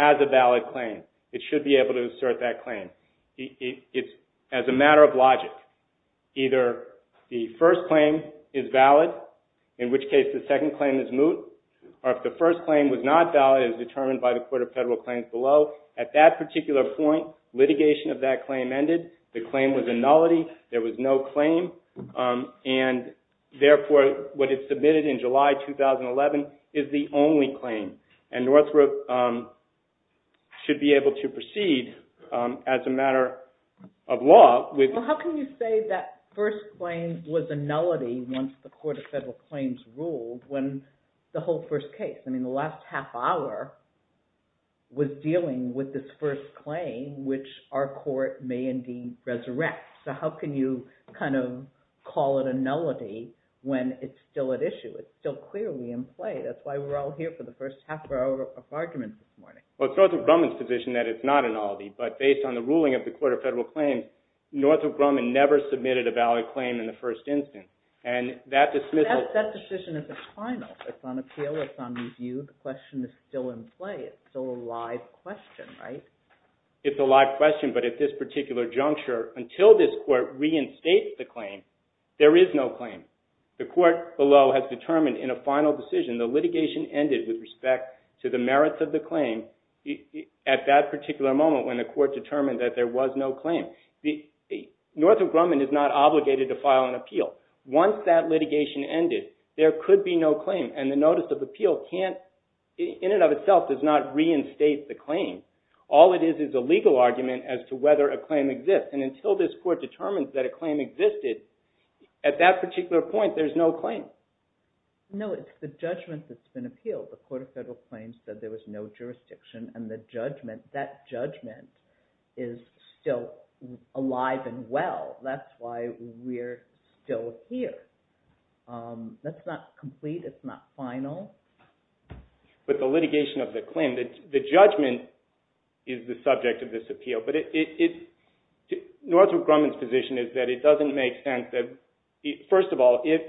as a valid claim. It should be able to assert that claim. It's as a matter of logic. Either the first claim is valid, in which case the second claim is moot, or if the first claim was not valid as determined by the Court of Federal Claims below, at that particular point litigation of that claim ended, the claim was a nullity, there was no claim, and therefore what is submitted in July 2011 is the only claim. And NORTHROP should be able to proceed as a matter of law. Well, how can you say that first claim was a nullity once the Court of Federal Claims ruled when the whole first case, I mean the last half hour, was dealing with this first claim which our court may indeed resurrect. So how can you kind of call it a nullity when it's still at issue? It's still clearly in play. That's why we're all here for the first half hour of arguments this morning. Well, it's NORTHROP Grumman's position that it's not a nullity, but based on the ruling of the Court of Federal Claims, NORTHROP Grumman never submitted a valid claim in the first instance, and that dismissal... That decision is a final. It's on appeal. It's on review. The question is still in play. It's still a live question, right? It's a live question, but at this particular juncture, until this Court reinstates the claim, the court below has determined in a final decision the litigation ended with respect to the merits of the claim at that particular moment when the court determined that there was no claim. NORTHROP Grumman is not obligated to file an appeal. Once that litigation ended, there could be no claim, and the notice of appeal can't... In and of itself does not reinstate the claim. All it is is a legal argument as to whether a claim exists, and until this Court determines that a claim existed, at that particular point, there's no claim. No, it's the judgment that's been appealed. The Court of Federal Claims said there was no jurisdiction, and the judgment, that judgment is still alive and well. That's why we're still here. That's not complete. It's not final. But the litigation of the claim, the judgment is the subject of this appeal. Northrop Grumman's position is that it doesn't make sense that... First of all, if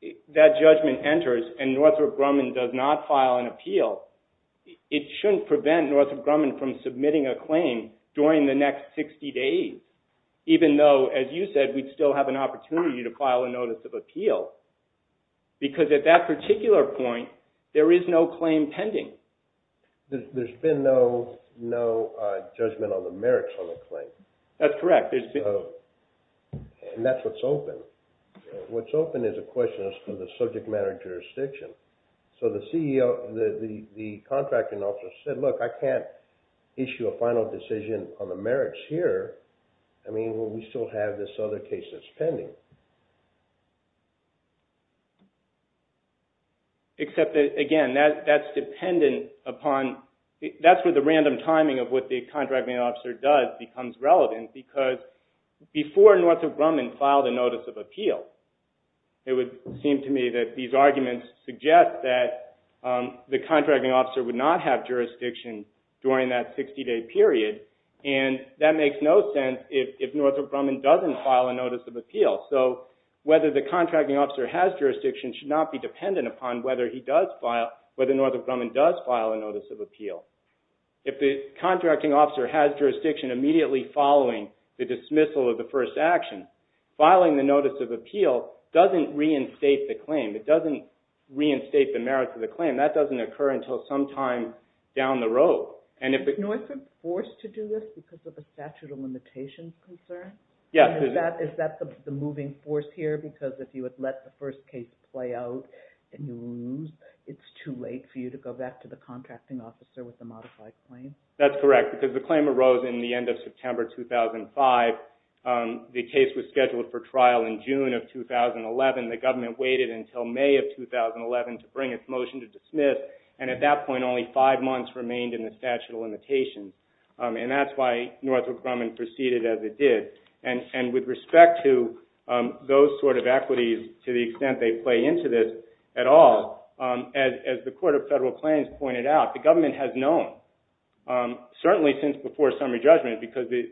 that judgment enters and Northrop Grumman does not file an appeal, it shouldn't prevent Northrop Grumman from submitting a claim during the next 60 days, even though, as you said, we'd still have an opportunity to file a notice of appeal, because at that particular point, there is no claim pending. There's been no judgment on the merits on the claim. That's correct. And that's what's open. What's open is a question as to the subject matter of jurisdiction. The contracting officer said, look, I can't issue a final decision on the merits here when we still have this other case that's pending. Except that, again, that's dependent upon... That's where the random timing of what the contracting officer does becomes relevant, because before Northrop Grumman filed a notice of appeal, it would seem to me that these arguments suggest that the contracting officer would not have jurisdiction during that 60-day period, and that makes no sense if Northrop Grumman doesn't file a notice of appeal. So whether the contracting officer has jurisdiction should not be dependent upon whether Northrop Grumman does file a notice of appeal. If the contracting officer has jurisdiction immediately following the dismissal of the first action, filing the notice of appeal doesn't reinstate the claim. It doesn't reinstate the merits of the claim. That doesn't occur until some time down the road. And if Northrop's forced to do this because of a statute of limitations concern, is that the moving force here? Because if you had let the first case play out and you lose, it's too late for you to go back to the contracting officer with a modified claim? That's correct, because the claim arose in the end of September 2005. The case was scheduled for trial in June of 2011. The government waited until May of 2011 to bring its motion to dismiss, and at that point only five months remained in the statute of limitations. And that's why Northrop Grumman proceeded as it did. And with respect to those sort of equities, to the extent they play into this at all, as the Court of Federal Claims pointed out, the government has known, certainly since it's in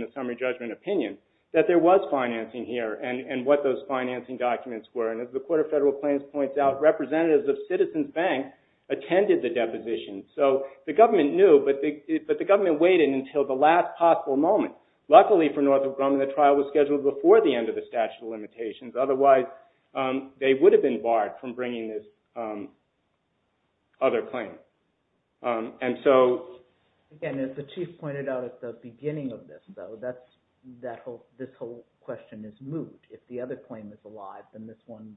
the summary judgment opinion, that there was financing here, and what those financing documents were. And as the Court of Federal Claims points out, representatives of Citizens Bank attended the deposition. So the government knew, but the government waited until the last possible moment. Luckily for Northrop Grumman, the trial was scheduled before the end of the statute of limitations. Otherwise, they would have been barred from bringing this other claim. Again, as the Chief pointed out at the beginning of this, though, this whole question is moot. If the other claim is alive, then this one,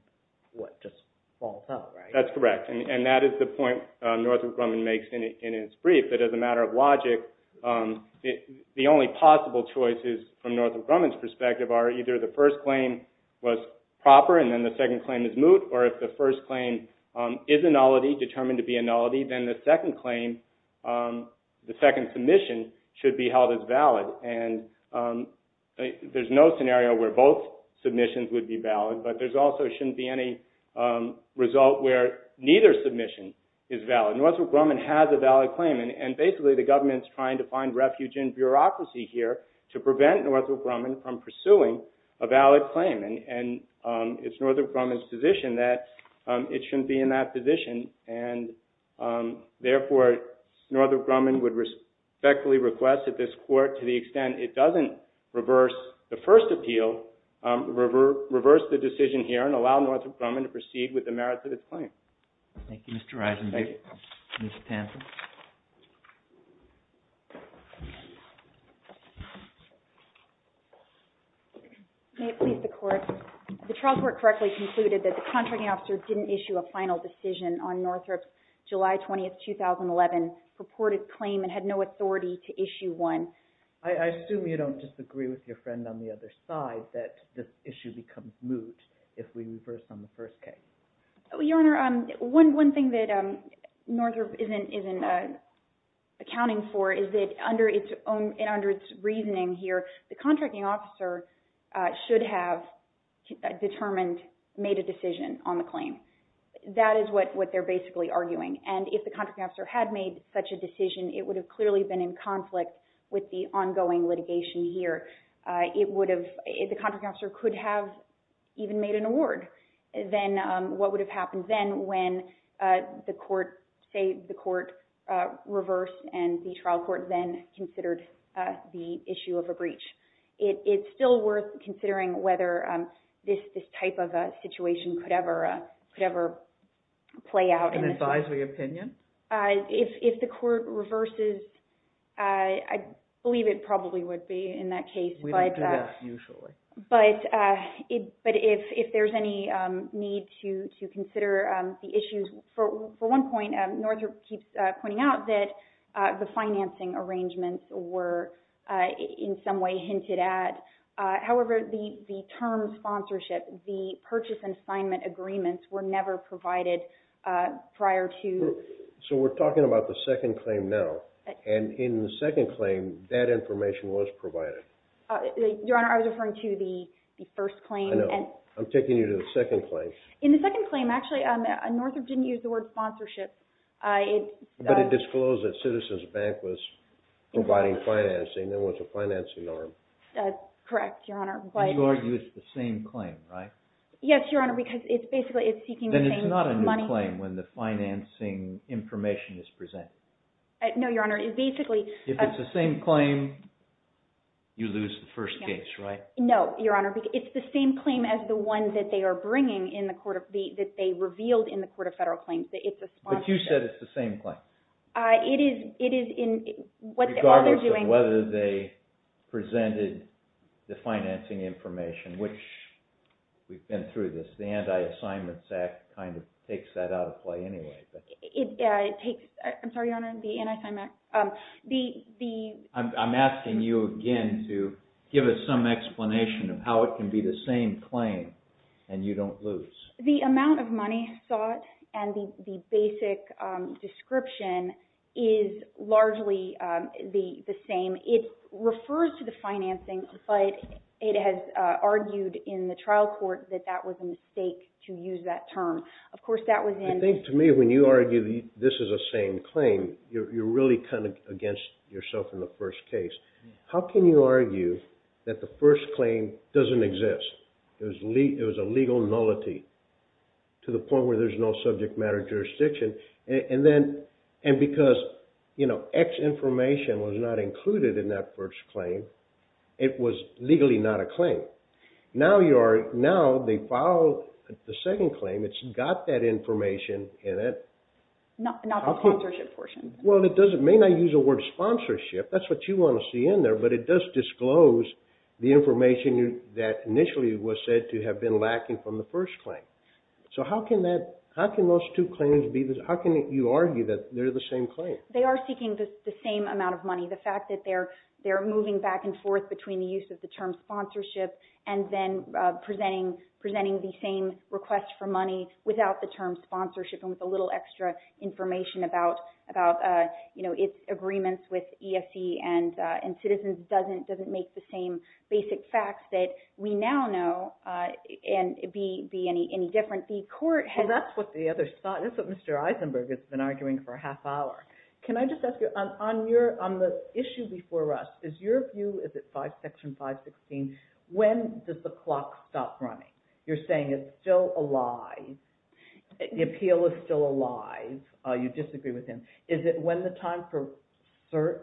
what, just falls out, right? That's correct, and that is the point Northrop Grumman makes in his brief, that as a matter of logic, the only possible choices from Northrop Grumman's perspective are either the first claim was proper, and then the second claim is moot, or if the first claim is a nullity, then the second claim, the second submission, should be held as valid. And there's no scenario where both submissions would be valid, but there also shouldn't be any result where neither submission is valid. Northrop Grumman has a valid claim, and basically the government's trying to find refuge in bureaucracy here to prevent Northrop Grumman from pursuing a valid claim. And it's Northrop Grumman's position that it shouldn't be in that position, and therefore Northrop Grumman would respectfully request that this Court, to the extent it doesn't reverse the first appeal, reverse the decision here and allow Northrop Grumman to proceed with the merits of his claim. Thank you, Mr. Eisenberg. Thank you. Ms. Tansen. May it please the Court. The trial court correctly concluded that the contracting officer didn't issue a final decision on Northrop's July 20, 2011 purported claim and had no authority to issue one. I assume you don't disagree with your friend on the other side that this issue becomes moot if we reverse on the first case. Your Honor, one thing that Northrop isn't accounting for is that under its own, and under its reasoning here, the contracting officer should have determined, made a decision on the claim. That is what they're basically arguing. And if the contracting officer had made such a decision, it would have clearly been in conflict with the ongoing litigation here. It would have, the contracting officer could have even made an award. Then what would have happened then when the Court, say the Court reversed and the trial court then considered the issue of a breach? It's still worth considering whether this type of a situation could ever play out. An advisory opinion? If the Court reverses, I believe it probably would be in that case. We don't do that usually. But if there's any need to consider the issues, for one point, Northrop keeps pointing out that the financing arrangements were in some way hinted at. However, the term sponsorship, the purchase and assignment agreements were never provided prior to... So we're talking about the second claim now. And in the second claim, that information was provided. Your Honor, I was referring to the first claim. I know. I'm taking you to the second claim. In the second claim, actually, Northrop didn't use the word sponsorship. But it disclosed that Citizens Bank was providing financing. It was a financing arm. Correct, Your Honor. But you argue it's the same claim, right? Yes, Your Honor, because it's basically seeking the same money... Then it's not a new claim when the financing information is presented. No, Your Honor, it basically... If it's the same claim, you lose the first case, right? No, Your Honor. It's the same claim as the one that they are bringing in the Court of, that they revealed in the Court of Federal Claims that it's a sponsorship. But you said it's the same claim. It is in... Regardless of whether they presented the financing information, which we've been through this. The Anti-Assignments Act kind of takes that out of play anyway. It takes... I'm sorry, Your Honor, the Anti-Assignments Act... I'm asking you again to give us some explanation of how it can be the same claim and you don't lose. The amount of money sought and the basic description is largely the same. It refers to the financing, but it has argued in the trial court that that was a mistake to use that term. Of course, that was in... I think to me, when you argue this is a same claim, you're really kind of against yourself in the first case. How can you argue that the first claim doesn't exist? It was a legal nullity to the point where there's no subject matter jurisdiction. And because X information was not included in that first claim, it was legally not a claim. Now they filed the second claim. It's got that information in it. Not the sponsorship portion. Well, it may not use the word sponsorship. That's what you want to see in there. But it does disclose the information that initially was said to have been lacking from the first claim. So how can those two claims be... How can you argue that they're the same claim? They are seeking the same amount of money. The fact that they're moving back and forth between the use of the term sponsorship and then presenting the same request for money without the term sponsorship and with a little extra information about its agreements with ESE and Citizens doesn't make the same basic facts that we now know be any different. The court has... Well, that's what Mr. Eisenberg has been arguing for a half hour. Can I just ask you, on the issue before us, is your view, is it Section 516, when does the clock stop running? You're saying it's still alive. The appeal is still alive. You disagree with him. Is it when the time for cert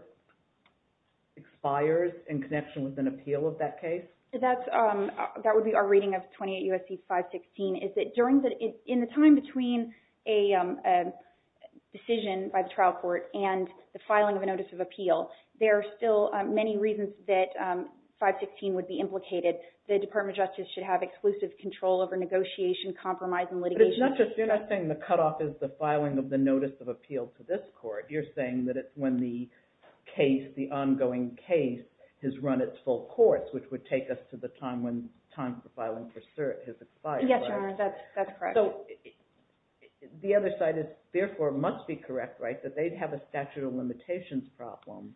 expires in connection with an appeal of that case? That would be our reading of 28 U.S.C. 516, is that in the time between a decision by the trial court and the filing of a notice of appeal, there are still many reasons that 516 would be implicated. The Department of Justice should have exclusive control over negotiation, compromise, and litigation. But you're not saying the cutoff is the filing of the notice of appeal to this court. You're saying that it's when the case, the ongoing case, has run its full course, which would take us to the time when the time for filing for cert has expired. Yes, Your Honor, that's correct. So the other side therefore must be correct, right, that they'd have a statute of limitations problem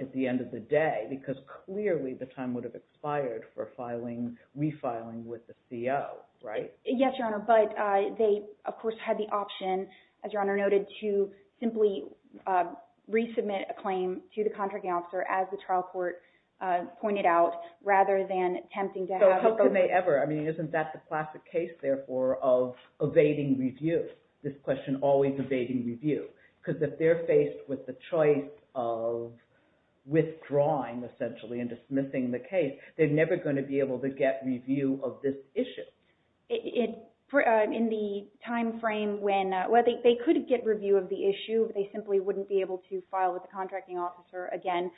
at the end of the day because clearly the time would have expired for refiling with the CO, right? Yes, Your Honor, but they of course had the option, as Your Honor noted, to simply resubmit a claim to the contracting officer, as the trial court pointed out, rather than attempting to have it go through. So how could they ever? I mean, isn't that the classic case, therefore, of evading review? This question, always evading review. Because if they're faced with the choice of withdrawing, essentially, and dismissing the case, they're never going to be able to get review of this issue. In the time frame when, well, they could get review of the issue, but they simply wouldn't be able to file with the contracting officer again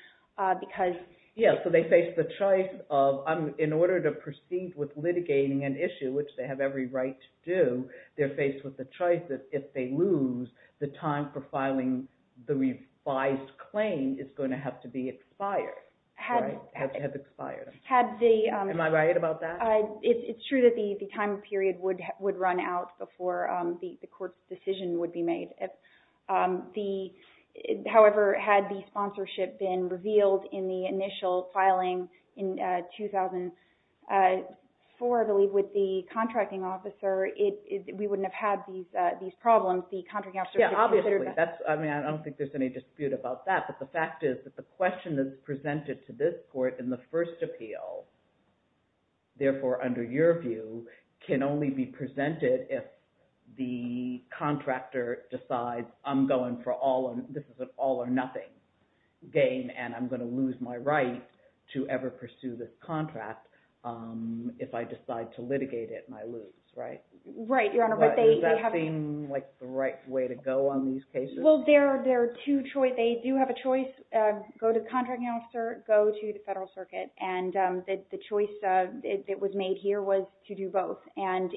because... Yes, so they face the choice of, in order to proceed with litigating an issue, which they have every right to do, they're faced with the choice that if they lose, the time for filing the revised claim is going to have to be expired, right? Has expired. Am I right about that? It's true that the time period would run out before the court's decision would be made. However, had the sponsorship been revealed in the initial filing in 2004, I believe, with the contracting officer, we wouldn't have had these problems. The contracting officer would have considered that. Yeah, obviously. I mean, I don't think there's any dispute about that, but the fact is that the question that's presented to this court in the first appeal, therefore, under your view, can only be presented if the contractor decides, I'm going for all, this is an all or nothing game, and I'm going to lose my right to ever pursue this contract if I decide to litigate it and I lose, right? Right, Your Honor. But does that seem like the right way to go on these cases? Well, there are two choices. They do have a choice, go to the contracting officer, go to the federal circuit, and the choice that was made here was to do both. And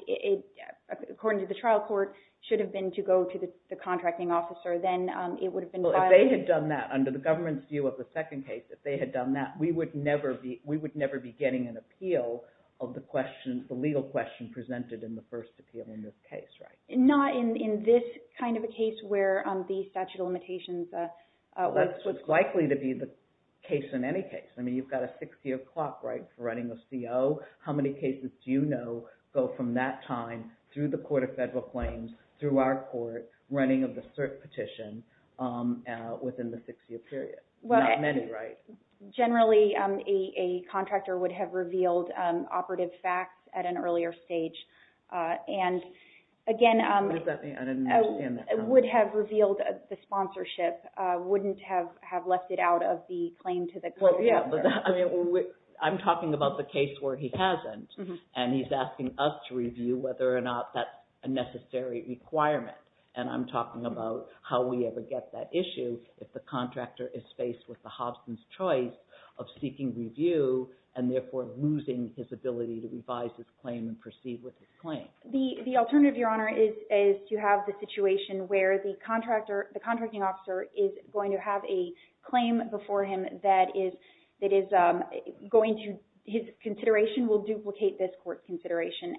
according to the trial court, it should have been to go to the contracting officer. Then it would have been filed. Well, if they had done that, under the government's view of the second case, if they had done that, we would never be getting an appeal of the legal question presented in the first appeal in this case, right? Not in this kind of a case where the statute of limitations was. That's what's likely to be the case in any case. I mean, you've got a six-year clock, right, for running a CO. How many cases do you know go from that time through the Court of Federal Claims, through our court, running of the cert petition within the six-year period? Not many, right? Generally, a contractor would have revealed operative facts at an earlier stage. And, again, would have revealed the sponsorship, wouldn't have left it out of the claim to the Court of Federal Claims. I'm talking about the case where he hasn't, and he's asking us to review whether or not that's a necessary requirement. And I'm talking about how we ever get that issue if the contractor is faced with the Hobson's choice of seeking review and, therefore, losing his ability to revise his claim and proceed with his claim. The alternative, Your Honor, is to have the situation where the contracting officer is going to have a claim before him that is going to, his consideration will duplicate this court's consideration.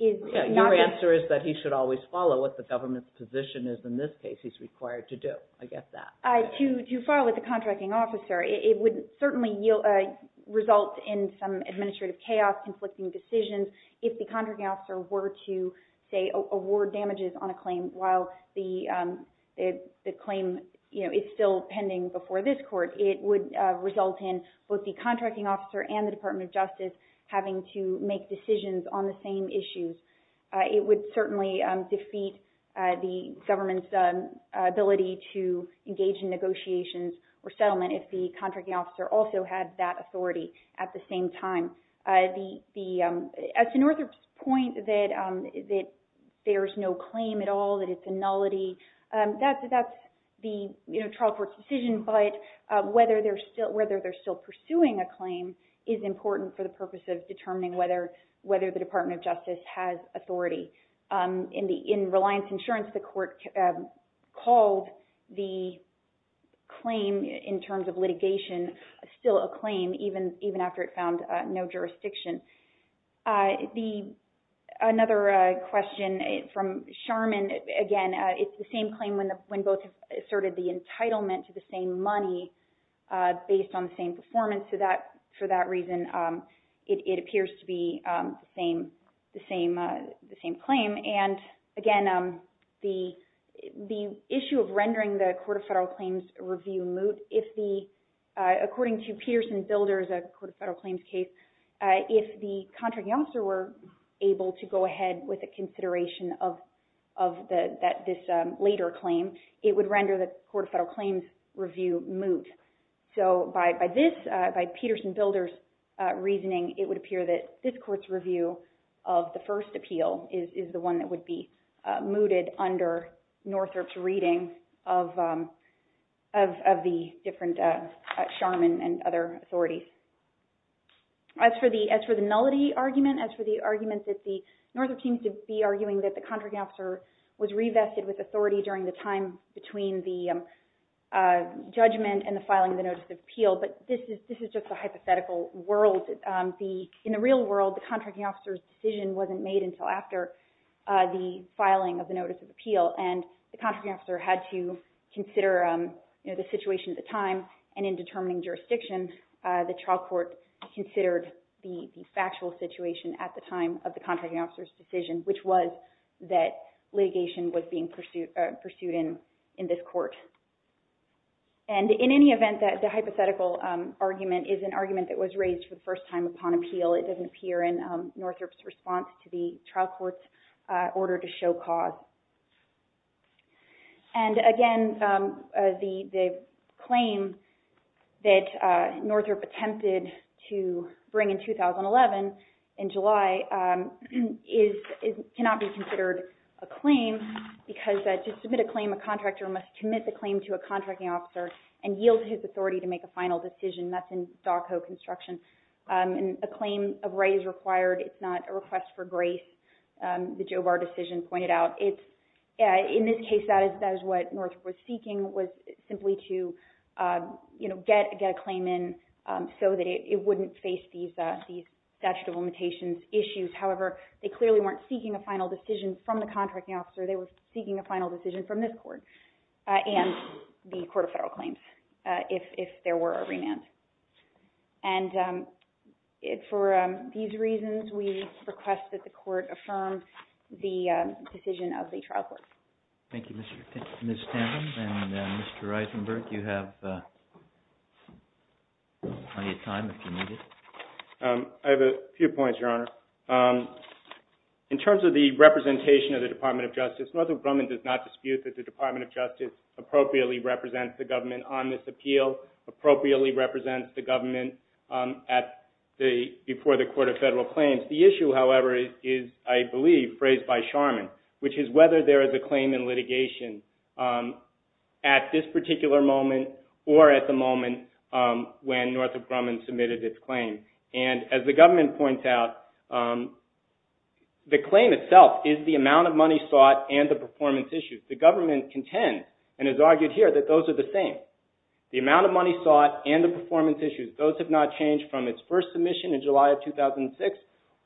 Your answer is that he should always follow what the government's position is, in this case, he's required to do. I get that. To file with the contracting officer. It would certainly result in some administrative chaos, conflicting decisions. If the contracting officer were to, say, award damages on a claim while the claim is still pending before this court, having to make decisions on the same issues, it would certainly defeat the government's ability to engage in negotiations or settlement if the contracting officer also had that authority at the same time. As to Northrop's point that there's no claim at all, that it's a nullity, that's the trial court's decision, but whether they're still pursuing a claim is important for the purpose of determining whether the Department of Justice has authority. In Reliance Insurance, the court called the claim in terms of litigation still a claim even after it found no jurisdiction. Another question from Charmin, again, it's the same claim when both asserted the entitlement to the same money based on the same performance. For that reason, it appears to be the same claim. Again, the issue of rendering the Court of Federal Claims review moot, according to Peterson Builder's Court of Federal Claims case, if the contracting officer were able to go ahead with a consideration of this later claim, it would render the Court of Federal Claims review moot. So by Peterson Builder's reasoning, it would appear that this court's review of the first appeal is the one that would be mooted under Northrop's reading of the different Charmin and other authorities. As for the nullity argument, as for the argument that Northrop seems to be arguing that the contracting officer was revested with authority during the time between the judgment and the filing of the notice of appeal, but this is just a hypothetical world. In the real world, the contracting officer's decision wasn't made until after the filing of the notice of appeal, and the contracting officer had to consider the situation at the time, and in determining jurisdiction, the trial court considered the factual situation at the time of the contracting officer's decision, which was that litigation was being pursued in this court. And in any event, the hypothetical argument is an argument that was raised for the first time upon appeal. It doesn't appear in Northrop's response to the trial court's order to show cause. And again, the claim that Northrop attempted to bring in 2011, in July, cannot be considered a claim because to submit a claim, a contractor must commit the claim to a contracting officer and yield to his authority to make a final decision. That's in DACO construction. And a claim of right is required. It's not a request for grace, the Jobar decision pointed out. In this case, that is what Northrop was seeking, was simply to get a claim in so that it wouldn't face these statute of limitations issues. However, they clearly weren't seeking a final decision from the contracting officer. They were seeking a final decision from this court and the Court of Federal Claims if there were a remand. And for these reasons, we request that the court affirm the decision of the trial court. Thank you, Mr. Stanton. And Mr. Eisenberg, you have plenty of time if you need it. I have a few points, Your Honor. In terms of the representation of the Department of Justice, Northrop Grumman does not dispute that the Department of Justice appropriately represents the government on this appeal, appropriately represents the government before the Court of Federal Claims. The issue, however, is, I believe, phrased by Charman, which is whether there is a claim in litigation at this particular moment or at the moment when Northrop Grumman submitted its claim. And as the government points out, the claim itself is the amount of money sought and the performance issues. The government contends and has argued here that those are the same. The amount of money sought and the performance issues, those have not changed from its first submission in July of 2006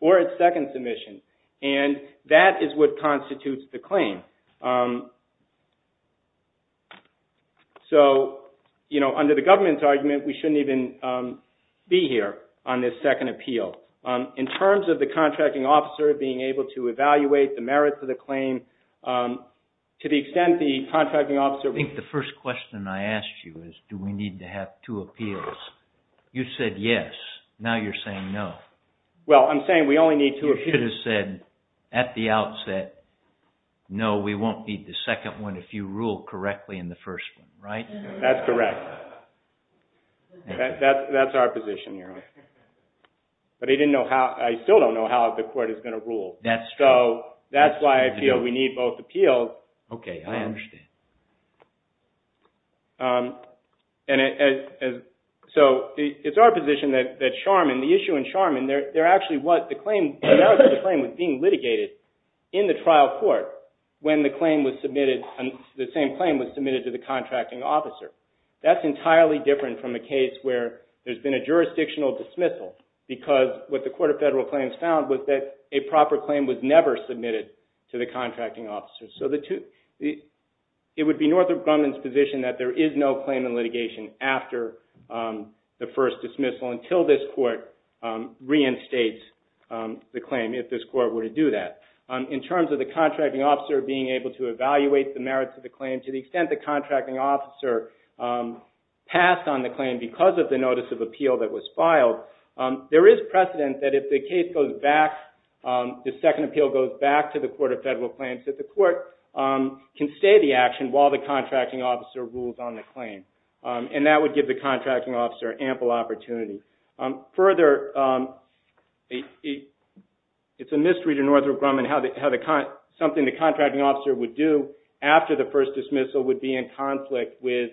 or its second submission. And that is what constitutes the claim. So, you know, under the government's argument, we shouldn't even be here on this second appeal. In terms of the contracting officer being able to evaluate the merits of the claim, to the extent the contracting officer... I think the first question I asked you is, do we need to have two appeals? You said yes. Now you're saying no. Well, I'm saying we only need two appeals. You should have said at the outset, no, we won't need the second one if you rule correctly in the first one, right? That's correct. That's our position here. But I still don't know how the court is going to rule. That's true. So that's why I feel we need both appeals. Okay, I understand. So it's our position that Charman, the issue in Charman, the merits of the claim was being litigated in the trial court when the same claim was submitted to the contracting officer. That's entirely different from a case where there's been a jurisdictional dismissal because what the Court of Federal Claims found was that a proper claim was never submitted to the contracting officer. So it would be Northrop Grumman's position that there is no claim in litigation after the first dismissal until this court reinstates the claim, if this court were to do that. In terms of the contracting officer being able to evaluate the merits of the claim to the extent the contracting officer passed on the claim because of the notice of appeal that was filed, there is precedent that if the case goes back, the second appeal goes back to the Court of Federal Claims, and that would give the contracting officer ample opportunity. Further, it's a mystery to Northrop Grumman how something the contracting officer would do after the first dismissal would be in conflict with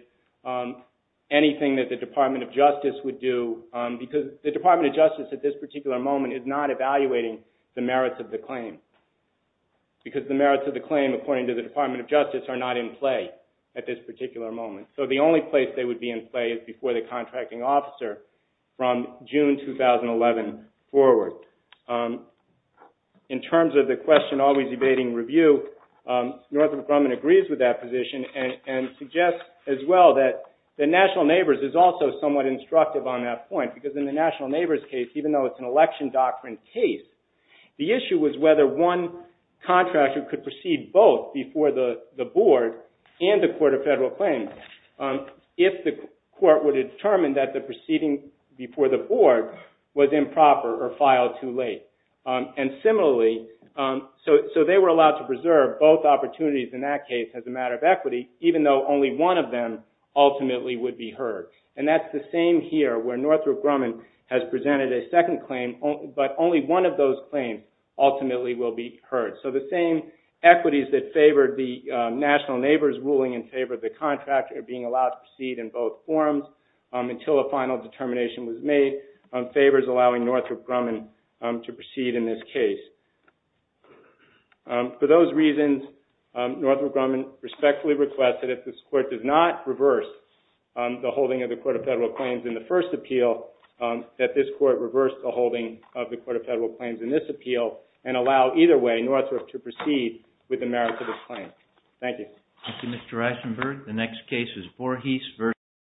anything that the Department of Justice would do because the Department of Justice at this particular moment is not evaluating the merits of the claim because the merits of the claim, according to the Department of Justice, are not in play at this particular moment. So the only place they would be in play is before the contracting officer from June 2011 forward. In terms of the question always evading review, Northrop Grumman agrees with that position and suggests as well that the National Neighbors is also somewhat instructive on that point because in the National Neighbors case, even though it's an election doctrine case, the issue was whether one contractor could proceed both before the board and the Court of Federal Claims if the court would determine that the proceeding before the board was improper or filed too late. And similarly, so they were allowed to preserve both opportunities in that case as a matter of equity, even though only one of them ultimately would be heard. And that's the same here where Northrop Grumman has presented a second claim, but only one of those claims ultimately will be heard. So the same equities that favored the National Neighbors ruling and favored the contractor being allowed to proceed in both forms until a final determination was made, favors allowing Northrop Grumman to proceed in this case. For those reasons, Northrop Grumman respectfully requests that if this court does not reverse the holding of the Court of Federal Claims in the first appeal, that this court reverse the holding of the Court of Federal Claims in this appeal and allow either way Northrop to proceed with the merits of this claim. Thank you.